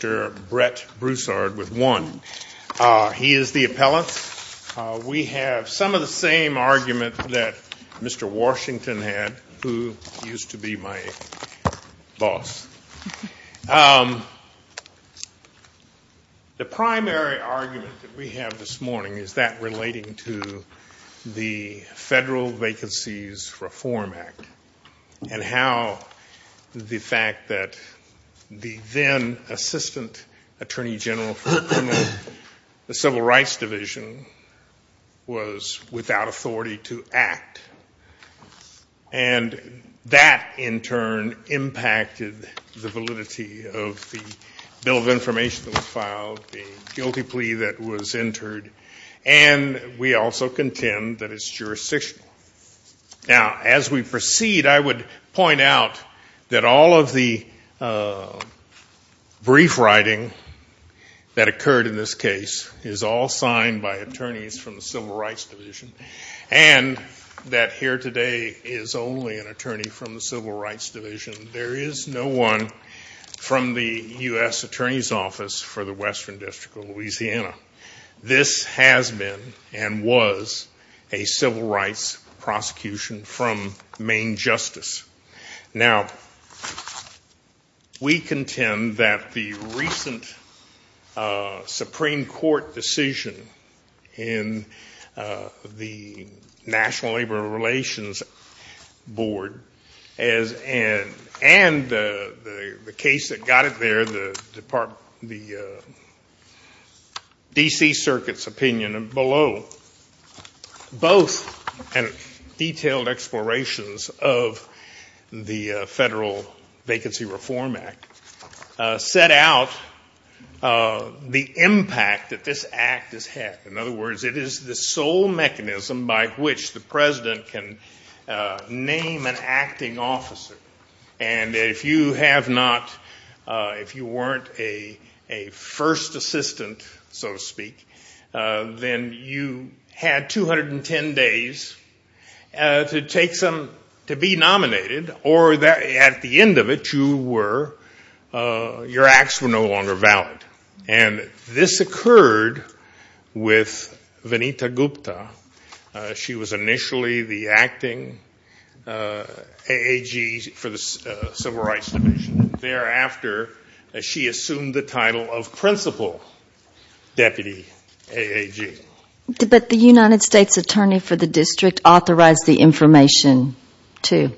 with one. He is the appellant. We have some of the same argument that Mr. Washington had, who used to be my boss. The primary argument that we have this morning is that relating to the Federal Vacancies Reform Act and how the fact that the then Assistant Attorney General of the United States, who was Assistant Attorney General for the Civil Rights Division, was without authority to act. And that, in turn, impacted the validity of the Bill of Information that was filed, the guilty plea that was entered, and we also contend that it is jurisdictional. Now, as we proceed, I would point out that all of the brief writing that occurred in this case is all signed by attorneys from the Civil Rights Division and that here today is only an attorney from the Civil Rights Division. There is no one from the U.S. Attorney's Office for the Western District of Louisiana. This has been, and was, a civil rights prosecution from Maine justice. Now, we contend that the recent Supreme Court decision in the National Labor Relations Board and the case that got it there, the Department of Labor, the Supreme Court decision, was not in the D.C. Circuit's opinion and below. Both detailed explorations of the Federal Vacancy Reform Act set out the impact that this act has had. In other words, it is the sole mechanism by which the President can name an acting officer. And if you have not, if you weren't a first assistant, so to speak, then you had 210 days to take some, to be nominated, or at the end of it, you were, your acts were no longer valid. And this occurred with Vanita Gupta. She was initially the acting A.A.G. for the Civil Rights Division. Thereafter, she assumed the title of Principal Deputy A.A.G. But the United States Attorney for the District authorized the information, too.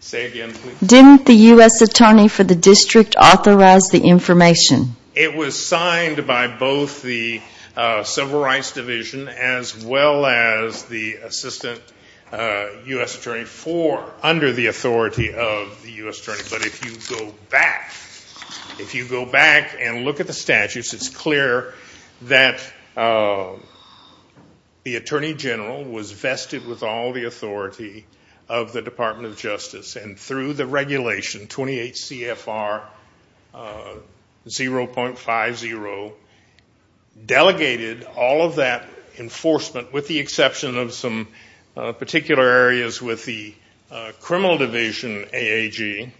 Say again, please. Didn't the U.S. Attorney for the District authorize the information? It was signed by both the Civil Rights Division as well as the Assistant U.S. Attorney for, under the authority of the U.S. Attorney. But if you go back, if you go back and look at the statutes, it's clear that the Attorney General was vested with all the authority of the Department of Justice. And through the regulation, 28 CFR 0.50, delegated all of that enforcement, with the exception of some particular areas with the Criminal Division A.A.G.,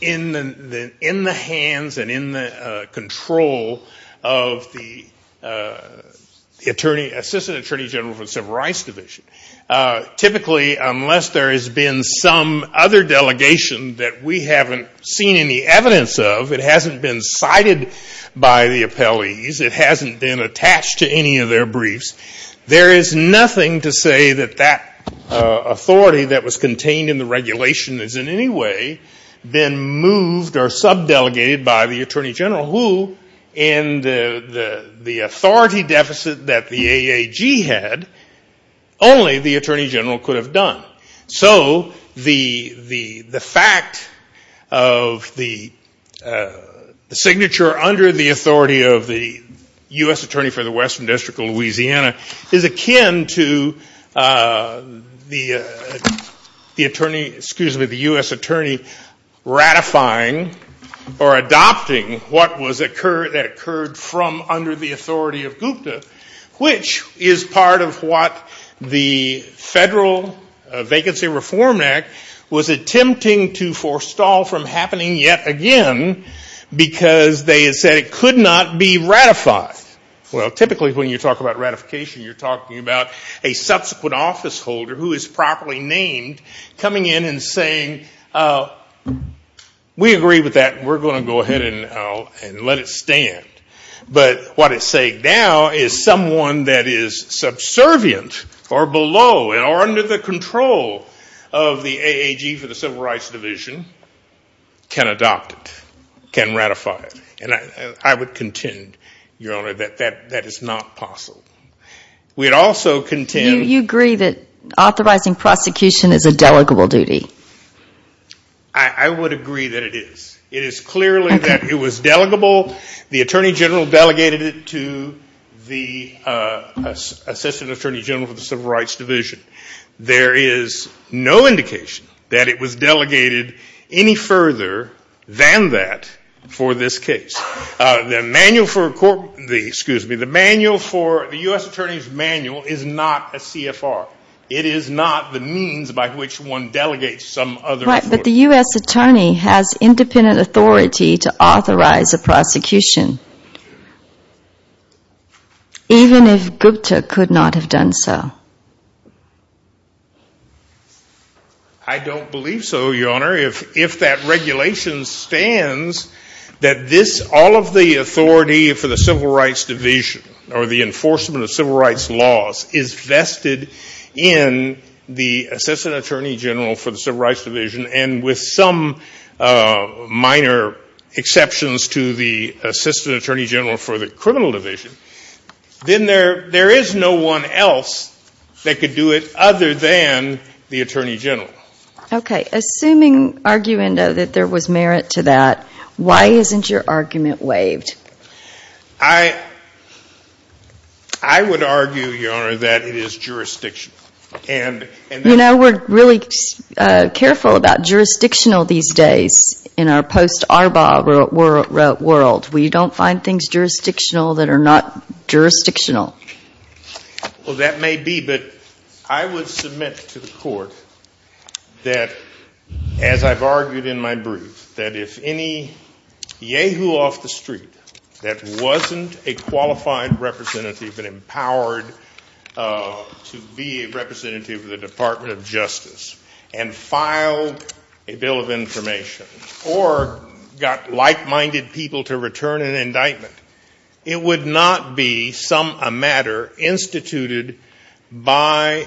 in the hands and in the control of the Assistant Attorney General for the Civil Rights Division. Typically, unless there has been some other delegation that we haven't seen any evidence of, it hasn't been cited by the appellees, it hasn't been attached to any of their briefs, there is nothing to say that that authority that was contained in the regulation has in any way been moved or sub-delegated by the Attorney General, who in the authority deficit that the A.A.G. had, only the Attorney General could have done. So the fact of the signature under the authority of the U.S. Attorney for the Western District of Louisiana is akin to the U.S. Attorney ratifying or adopting what occurred from under the authority of Gupta, which is part of what the Federal Vacancy Reform Act was attempting to forestall from happening yet again, because they said it could not be ratified. Well, typically when you talk about ratification, you're talking about a subsequent office holder who is properly named coming in and saying, we agree with that, we're going to go ahead and let it stand. But what it's saying now is someone that is subservient or below or under the control of the A.A.G. for the Civil Rights Division can adopt it, can ratify it. And I would contend, Your Honor, that that is not possible. We would also contend... You agree that authorizing prosecution is a delegable duty. I would agree that it is. It is clearly that it was delegable. The Attorney General delegated it to the Assistant Attorney General for the Civil Rights Division. There is no indication that it was delegated any further than that for this case. The manual for the U.S. Attorney's manual is not a CFR. It is not the means by which one delegates some other authority. Right, but the U.S. Attorney has independent authority to authorize a prosecution, even if Gupta could not have done so. I don't believe so, Your Honor. If that regulation stands that this, all of the authority for the Civil Rights Division or the enforcement of civil rights laws, is vested in the Assistant Attorney General for the Civil Rights Division, and with some minor exceptions to the Assistant Attorney General for the Criminal Division, then there is no one else that could do it other than the Attorney General. Okay. Assuming, Arguendo, that there was merit to that, why isn't your argument waived? I would argue, Your Honor, that it is jurisdictional. You know, we're really careful about jurisdictional these days in our post-ARBA world. We don't find things jurisdictional that are not jurisdictional. Well, that may be, but I would submit to the Court that, as I've argued in my brief, that if any yahoo off the street that wasn't a qualified representative and empowered to be a representative of the Department of Justice and filed a bill of information or got like-minded people to return an indictment, it would not be, sum a matter, instituted by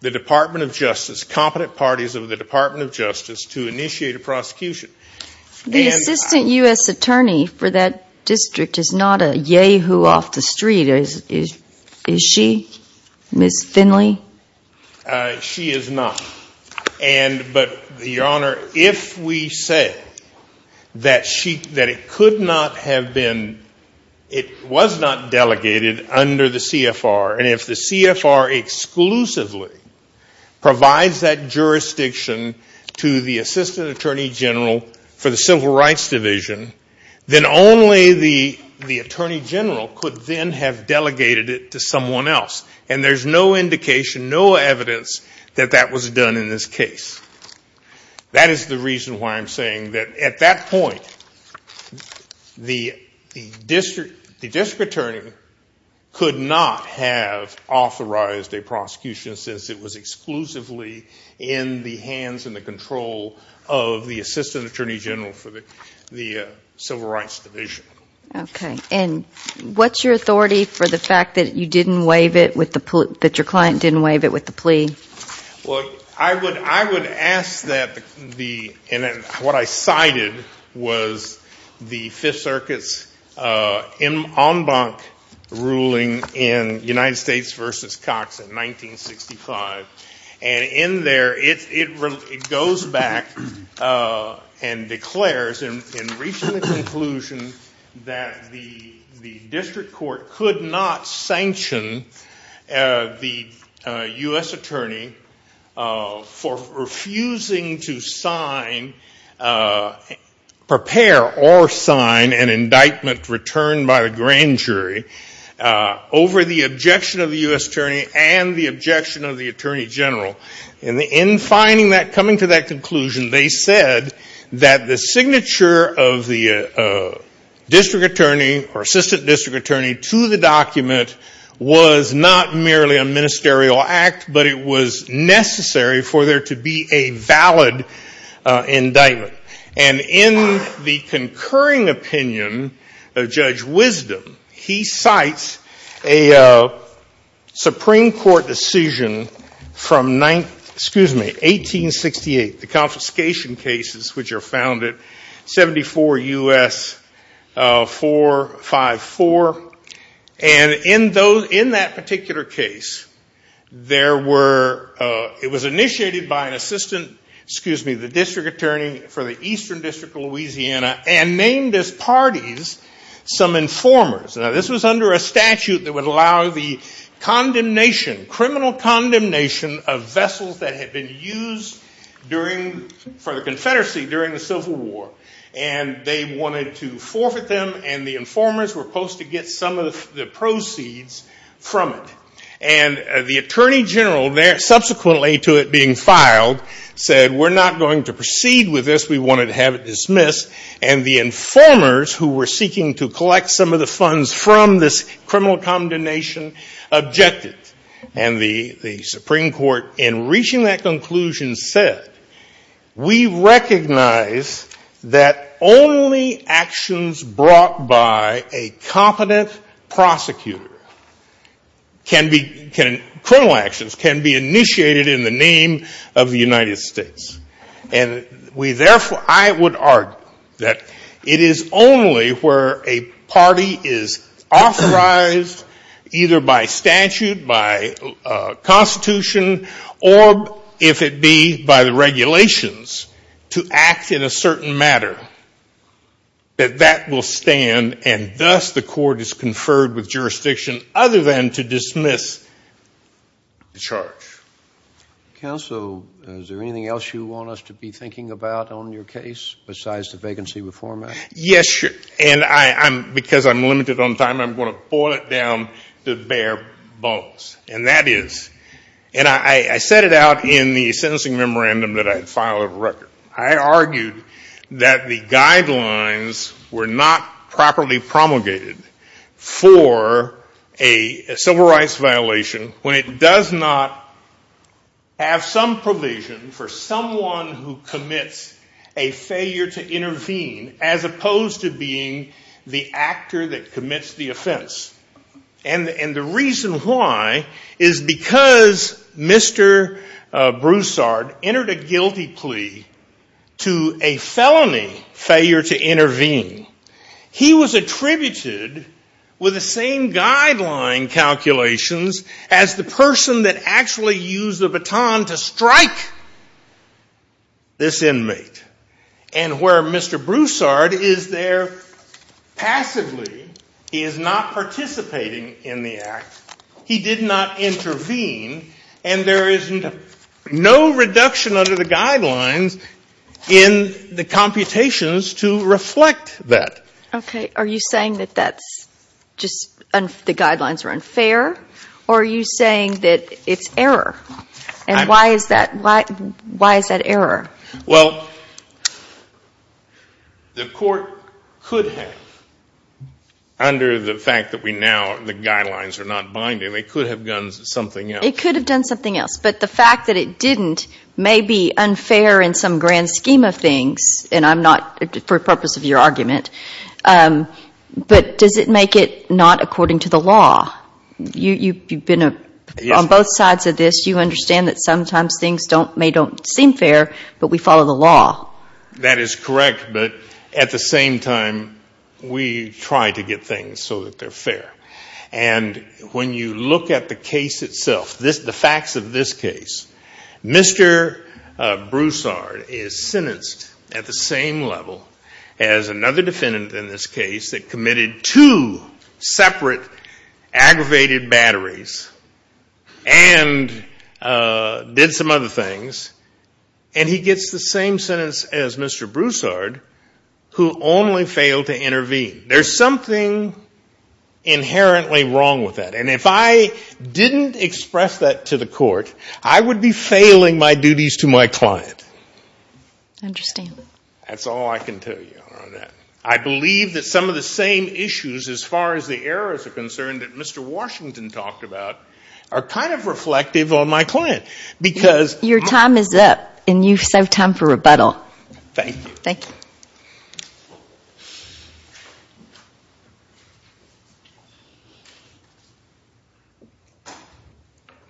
the Department of Justice, competent parties of the Department of Justice, to initiate a prosecution. The Assistant U.S. Attorney for that district is not a yahoo off the street. Is she, Ms. Finley? She is not. And, but, Your Honor, if we say that she, that it could not have been, it was not delegated under the CFR, and if the CFR exclusively provides that jurisdiction to the Assistant Attorney General for the Civil Rights Division, then only the Attorney General could then have delegated it to someone else. And there's no indication, no evidence that that was done in this case. That is the reason why I'm saying that, at that point, the district attorney could not have authorized a prosecution since it was exclusively in the hands and the control of the Assistant Attorney General for the Civil Rights Division. Okay. And what's your authority for the fact that you didn't waive it, that your client didn't waive it with the plea? Well, I would ask that the, and what I cited was the Fifth Circuit's en banc ruling in United States v. Cox in 1965. And in there, it goes back and declares in reaching the conclusion that the district court could not sanction the U.S. attorney for refusing to sign, prepare or sign an indictment returned by the grand jury over the objection of the U.S. attorney and the objection of the attorney general. And in finding that, coming to that conclusion, they said that the signature of the district attorney or assistant district attorney to the document was not merely a ministerial act, but it was necessary for there to be a valid indictment. And in the concurring opinion of Judge Wisdom, he cites a Supreme Court decision from, excuse me, 1868, the confiscation cases which are found at 74 U.S. 454. And in that particular case, there were, it was initiated by an assistant, excuse me, the district attorney for the Eastern District of Louisiana and named as parties some informers. Now, this was under a statute that would allow the condemnation, criminal condemnation of vessels that had been used during, for the Confederacy during the Civil War. And they wanted to forfeit them, and the informers were supposed to get some of the proceeds from it. And the attorney general, subsequently to it being filed, said we're not going to proceed with this, we wanted to have it dismissed. And the informers who were seeking to collect some of the funds from this criminal condemnation objected. And the Supreme Court, in reaching that conclusion, said, we recognize that only actions brought by a competent prosecutor can be, criminal actions can be initiated in the name of the United States. And we therefore, I would argue that it is only where a party is authorized, either by statute, by Constitution, or if it be by the regulations, to act in a certain matter, that that will stand and thus the court is conferred with jurisdiction other than to dismiss the charge. Counsel, is there anything else you want us to be thinking about on your case besides the vacancy reform act? Yes, sir. And I'm, because I'm limited on time, I'm going to boil it down to bare bones. And that is, and I set it out in the sentencing memorandum that I had filed as a record. I argued that the guidelines were not properly promulgated for a civil rights violation when it does not have some provision for someone who commits a failure to intervene, as opposed to being the actor that commits the offense. And the reason why is because Mr. Broussard entered a guilty plea to a felony failure to intervene. He was attributed, with the same guideline calculations, as the person that actually used the baton to strike this inmate. And where Mr. Broussard is there passively, he is not participating in the act. He did not intervene. And there is no reduction under the guidelines in the computations to reflect that. Okay. Are you saying that that's just, the guidelines are unfair? Or are you saying that it's error? And why is that, why is that error? Well, the court could have, under the fact that we now, the guidelines are not binding, they could have done something else. It could have done something else. But the fact that it didn't may be unfair in some grand scheme of things, and I'm not, for the purpose of your argument, but does it make it not according to the law? You've been on both sides of this. You understand that sometimes things may don't seem fair, but we follow the law. That is correct. But at the same time, we try to get things so that they're fair. And when you look at the case itself, the facts of this case, Mr. Broussard is sentenced at the same level as another defendant in this case that committed two separate aggravated batteries and did some other things. And he gets the same sentence as Mr. Broussard, who only failed to intervene. There's something inherently wrong with that. And if I didn't express that to the court, I would be failing my duties to my client. I understand. That's all I can tell you on that. I believe that some of the same issues, as far as the errors are concerned, that Mr. Washington talked about, are kind of reflective on my client. Your time is up, and you still have time for rebuttal. Thank you. Thank you.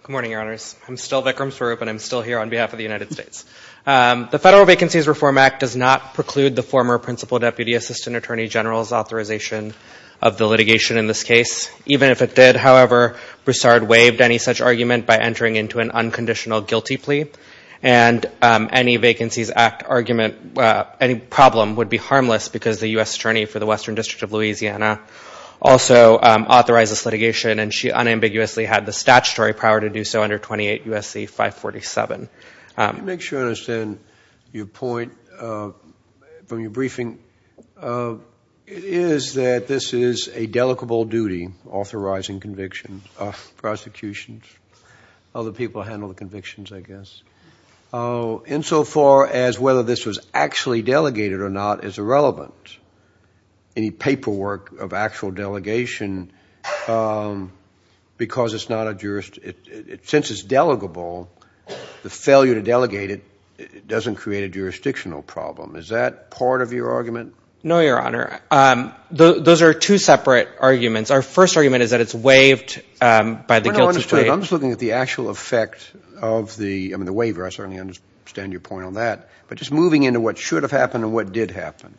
Good morning, Your Honors. I'm still Vikram Sarup, and I'm still here on behalf of the United States. The Federal Vacancies Reform Act does not preclude the former Principal Deputy Assistant Attorney General's authorization of the litigation in this case. Even if it did, however, Broussard waived any such argument by entering into an unconditional guilty plea. And any Vacancies Act argument, any problem, would be harmless because the U.S. Attorney for the Western District of Louisiana also authorized this litigation, and she unambiguously had the statutory power to do so under 28 U.S.C. 547. Let me make sure I understand your point from your briefing. It is that this is a delegable duty, authorizing convictions of prosecutions. Other people handle the convictions, I guess. Insofar as whether this was actually delegated or not is irrelevant. Any paperwork of actual delegation, because it's not a jurisdiction, since it's delegable, the failure to delegate it doesn't create a jurisdictional problem. Is that part of your argument? No, Your Honor. Those are two separate arguments. Our first argument is that it's waived by the guilty plea. I'm just looking at the actual effect of the waiver. I certainly understand your point on that. But just moving into what should have happened and what did happen.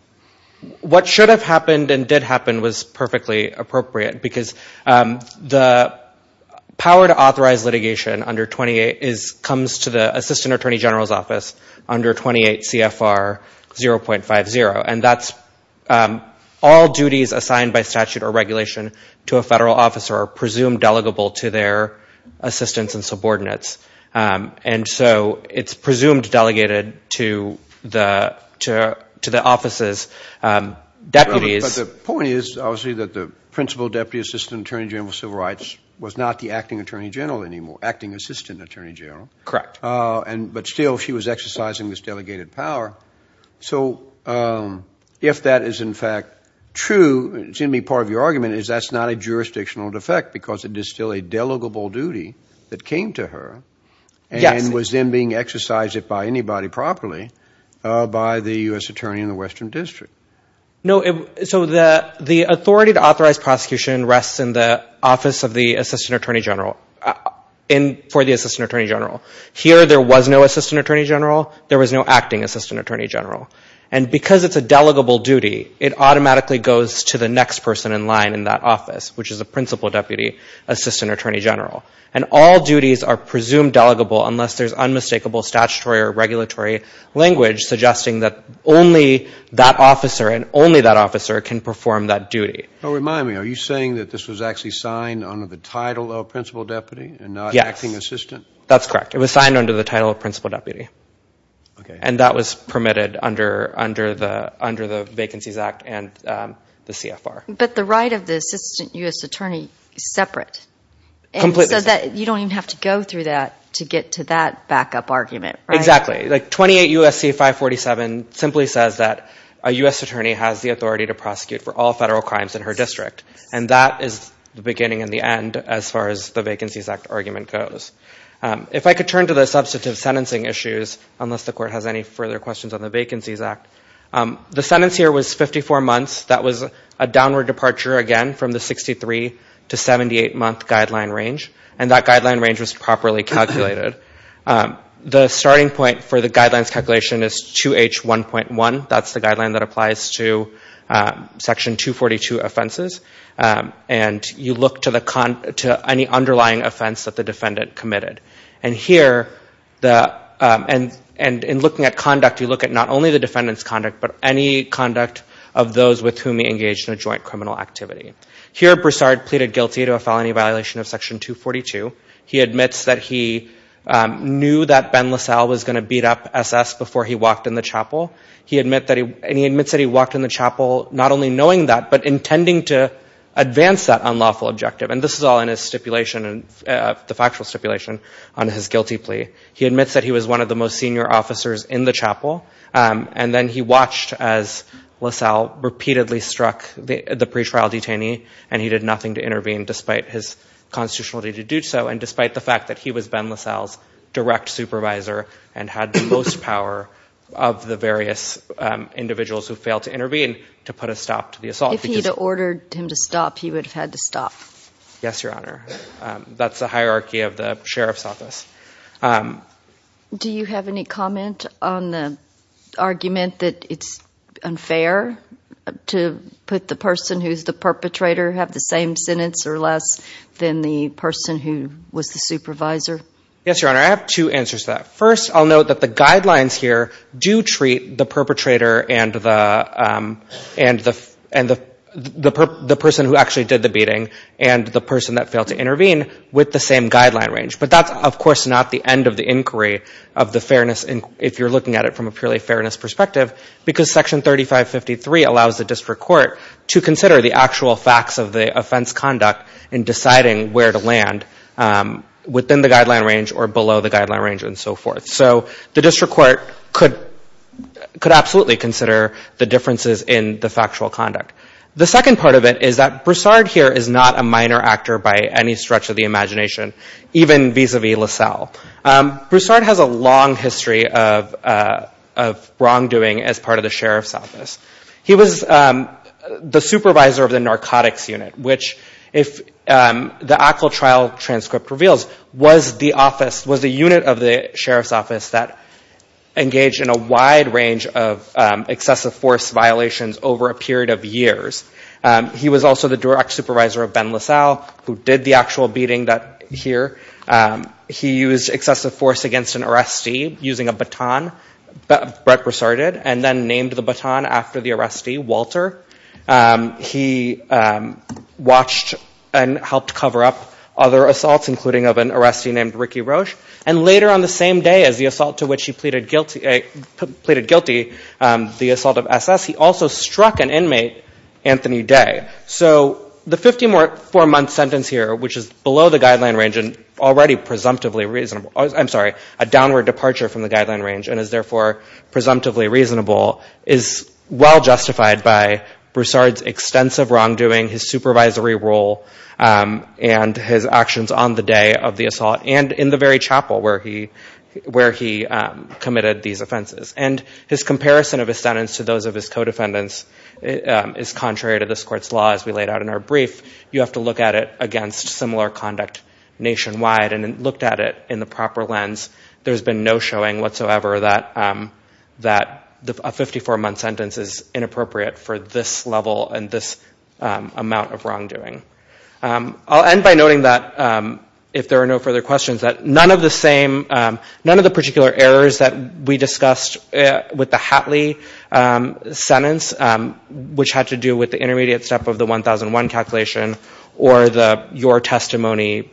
What should have happened and did happen was perfectly appropriate because the power to authorize litigation under 28 comes to the Assistant Attorney General's Office under 28 CFR 0.50. And that's all duties assigned by statute or regulation to a federal officer are presumed delegable to their assistants and subordinates. And so it's presumed delegated to the office's deputies. But the point is, obviously, that the Principal Deputy Assistant Attorney General of Civil Rights was not the Acting Attorney General anymore, Acting Assistant Attorney General. Correct. But still she was exercising this delegated power. So if that is in fact true, it's going to be part of your argument is that's not a jurisdictional defect because it is still a delegable duty that came to her and was then being exercised, if by anybody properly, by the U.S. Attorney in the Western District. No. So the authority to authorize prosecution rests in the Office of the Assistant Attorney General, for the Assistant Attorney General. Here there was no Assistant Attorney General. There was no Acting Assistant Attorney General. And because it's a delegable duty, it automatically goes to the next person in line in that office, which is the Principal Deputy Assistant Attorney General. And all duties are presumed delegable unless there's unmistakable statutory or regulatory language suggesting that only that officer and only that officer can perform that duty. Remind me, are you saying that this was actually signed under the title of Principal Deputy and not Acting Assistant? Yes. That's correct. It was signed under the title of Principal Deputy. And that was permitted under the Vacancies Act and the CFR. But the right of the Assistant U.S. Attorney is separate. Completely separate. So you don't even have to go through that to get to that backup argument, right? Exactly. Like 28 U.S.C. 547 simply says that a U.S. Attorney has the authority to prosecute for all federal crimes in her district. And that is the beginning and the end as far as the Vacancies Act argument goes. If I could turn to the substantive sentencing issues, unless the Court has any further questions on the Vacancies Act. The sentence here was 54 months. That was a downward departure, again, from the 63 to 78-month guideline range. And that guideline range was properly calculated. The starting point for the guidelines calculation is 2H1.1. That's the guideline that applies to Section 242 offenses. And you look to any underlying offense that the defendant committed. And here, in looking at conduct, you look at not only the defendant's conduct, but any conduct of those with whom he engaged in a joint criminal activity. Here, Broussard pleaded guilty to a felony violation of Section 242. He admits that he knew that Ben LaSalle was going to beat up S.S. before he walked in the chapel. And he admits that he walked in the chapel not only knowing that, but intending to advance that unlawful objective. And this is all in his stipulation, the factual stipulation on his guilty plea. He admits that he was one of the most senior officers in the chapel. And then he watched as LaSalle repeatedly struck the pretrial detainee, and he did nothing to intervene despite his constitutionality to do so, and despite the fact that he was Ben LaSalle's direct supervisor and had the most power of the various individuals who failed to intervene to put a stop to the assault. If he had ordered him to stop, he would have had to stop. That's the hierarchy of the sheriff's office. Do you have any comment on the argument that it's unfair to put the person who's the perpetrator have the same sentence or less than the person who was the supervisor? Yes, Your Honor. I have two answers to that. First, I'll note that the guidelines here do treat the perpetrator and the person who actually did the beating and the person that failed to intervene with the same guideline range. But that's, of course, not the end of the inquiry of the fairness, if you're looking at it from a purely fairness perspective, because Section 3553 allows the district court to consider the actual facts of the offense conduct in deciding where to land within the guideline range or below the guideline range and so forth. So the district court could absolutely consider the differences in the factual conduct. The second part of it is that Broussard here is not a minor actor by any stretch of the imagination. Even vis-a-vis LaSalle. Broussard has a long history of wrongdoing as part of the sheriff's office. He was the supervisor of the narcotics unit, which if the ACLA trial transcript reveals, was the unit of the sheriff's office that engaged in a wide range of excessive force violations over a period of years. He was also the direct supervisor of Ben LaSalle, who did the actual beating here. He used excessive force against an arrestee using a baton, Brett Broussard did, and then named the baton after the arrestee, Walter. He watched and helped cover up other assaults, including of an arrestee named Ricky Roche. And later on the same day as the assault to which he pleaded guilty, the assault of SS, he also struck an inmate, Anthony Day. So the 54-month sentence here, which is below the guideline range and already a downward departure from the guideline range and is therefore presumptively reasonable, is well justified by Broussard's extensive wrongdoing, his supervisory role, and his actions on the day of the assault and in the very chapel where he committed these offenses. And his comparison of his sentence to those of his co-defendants is contrary to this court's law, as we laid out in our brief. You have to look at it against similar conduct nationwide, and looked at it in the proper lens. There's been no showing whatsoever that a 54-month sentence is inappropriate for this level and this amount of wrongdoing. I'll end by noting that, if there are no further questions, that none of the particular errors that we discussed with the Hatley sentence, which had to do with the intermediate step of the 1001 calculation or the Your Testimony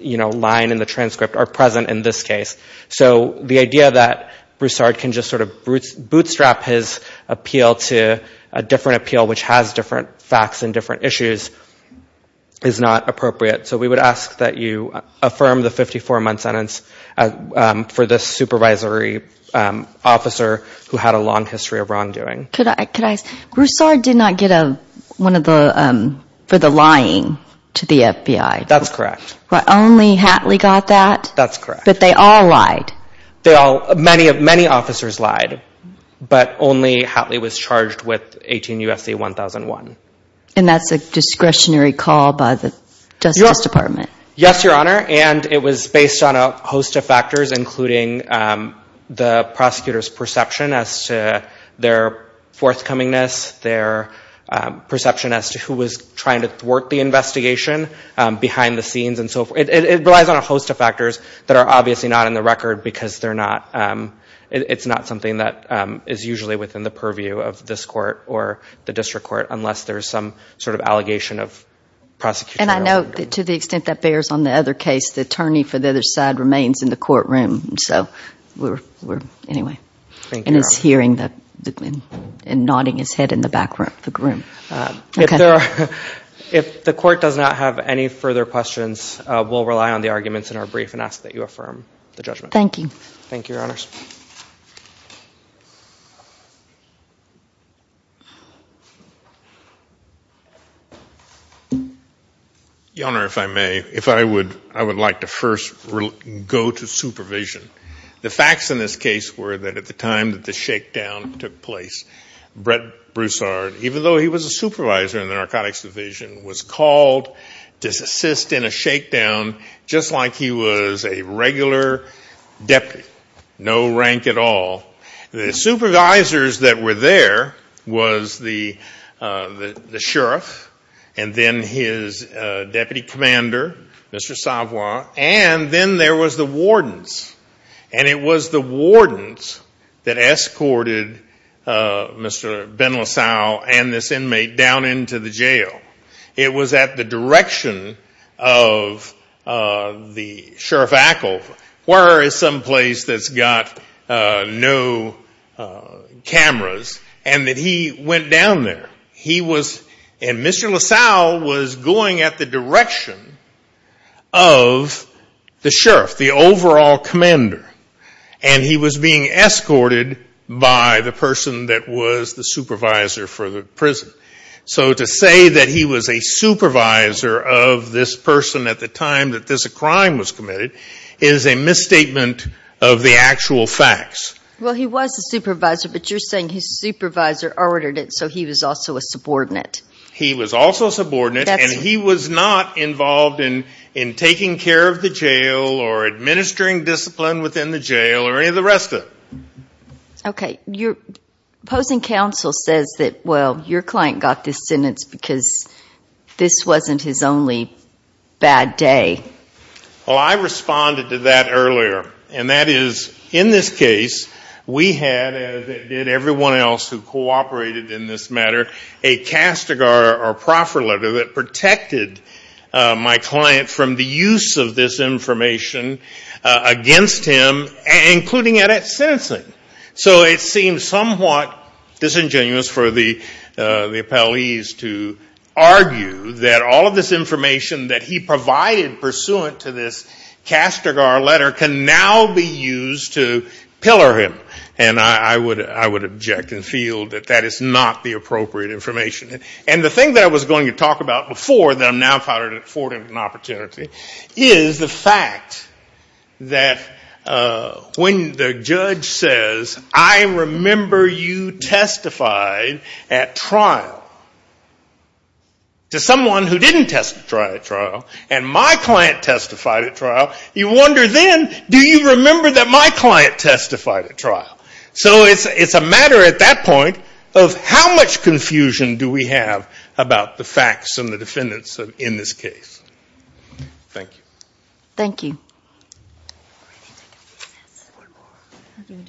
line in the transcript, are present in this case. So the idea that Broussard can just sort of bootstrap his appeal to a different appeal which has different facts and different issues is not appropriate. So we would ask that you affirm the 54-month sentence for this supervisory officer who had a long history of wrongdoing. Broussard did not get one for the lying to the FBI. That's correct. Only Hatley got that? That's correct. But they all lied? Many officers lied, but only Hatley was charged with 18 U.S.C. 1001. And that's a discretionary call by the Justice Department? Yes, Your Honor, and it was based on a host of factors, including the prosecutor's perception as to their forthcomingness, their perception as to who was trying to thwart the investigation behind the scenes and so forth. It relies on a host of factors that are obviously not in the record because it's not something that is usually within the purview of this court or the district court, unless there's some sort of allegation of prosecutorial wrongdoing. And I note that to the extent that bears on the other case, the attorney for the other side remains in the courtroom. So we're anyway. And is hearing and nodding his head in the back room. If the court does not have any further questions, we'll rely on the arguments in our brief and ask that you affirm the judgment. Thank you. Thank you, Your Honors. Your Honor, if I may, if I would like to first go to supervision. The facts in this case were that at the time that the shakedown took place, Brett Broussard, even though he was a supervisor in the narcotics division, was called to assist in a shakedown just like he was a regular deputy, no rank at all. The supervisors that were there was the sheriff and then his deputy commander, Mr. Savoy, and then there was the wardens. And it was the wardens that escorted Mr. Ben LaSalle and this inmate down into the jail. It was at the direction of the sheriff Ackle, where is some place that's got no cameras, and that he went down there. And Mr. LaSalle was going at the direction of the sheriff, the overall commander, and he was being escorted by the person that was the supervisor for the prison. So to say that he was a supervisor of this person at the time that this crime was committed is a misstatement of the actual facts. Well, he was a supervisor, but you're saying his supervisor ordered it so he was also a subordinate. He was also a subordinate, and he was not involved in taking care of the jail or administering discipline within the jail or any of the rest of it. Okay. Your opposing counsel says that, well, your client got this sentence because this wasn't his only bad day. Well, I responded to that earlier, and that is, in this case, we had, as did everyone else who cooperated in this matter, a castigar or proffer letter that protected my client from the use of this information against him, including it at sentencing. So it seems somewhat disingenuous for the appellees to argue that all of this information that he provided pursuant to this castigar letter can now be used to pillar him. And I would object and feel that that is not the appropriate information. And the thing that I was going to talk about before that I'm now afforded an opportunity is the fact that when the judge says, I remember you testified at trial to someone who didn't testify at trial, and my client testified at trial, you wonder then, do you remember that my client testified at trial? So it's a matter at that point of how much confusion do we have about the facts and the defendants in this case. Thank you. Thank you.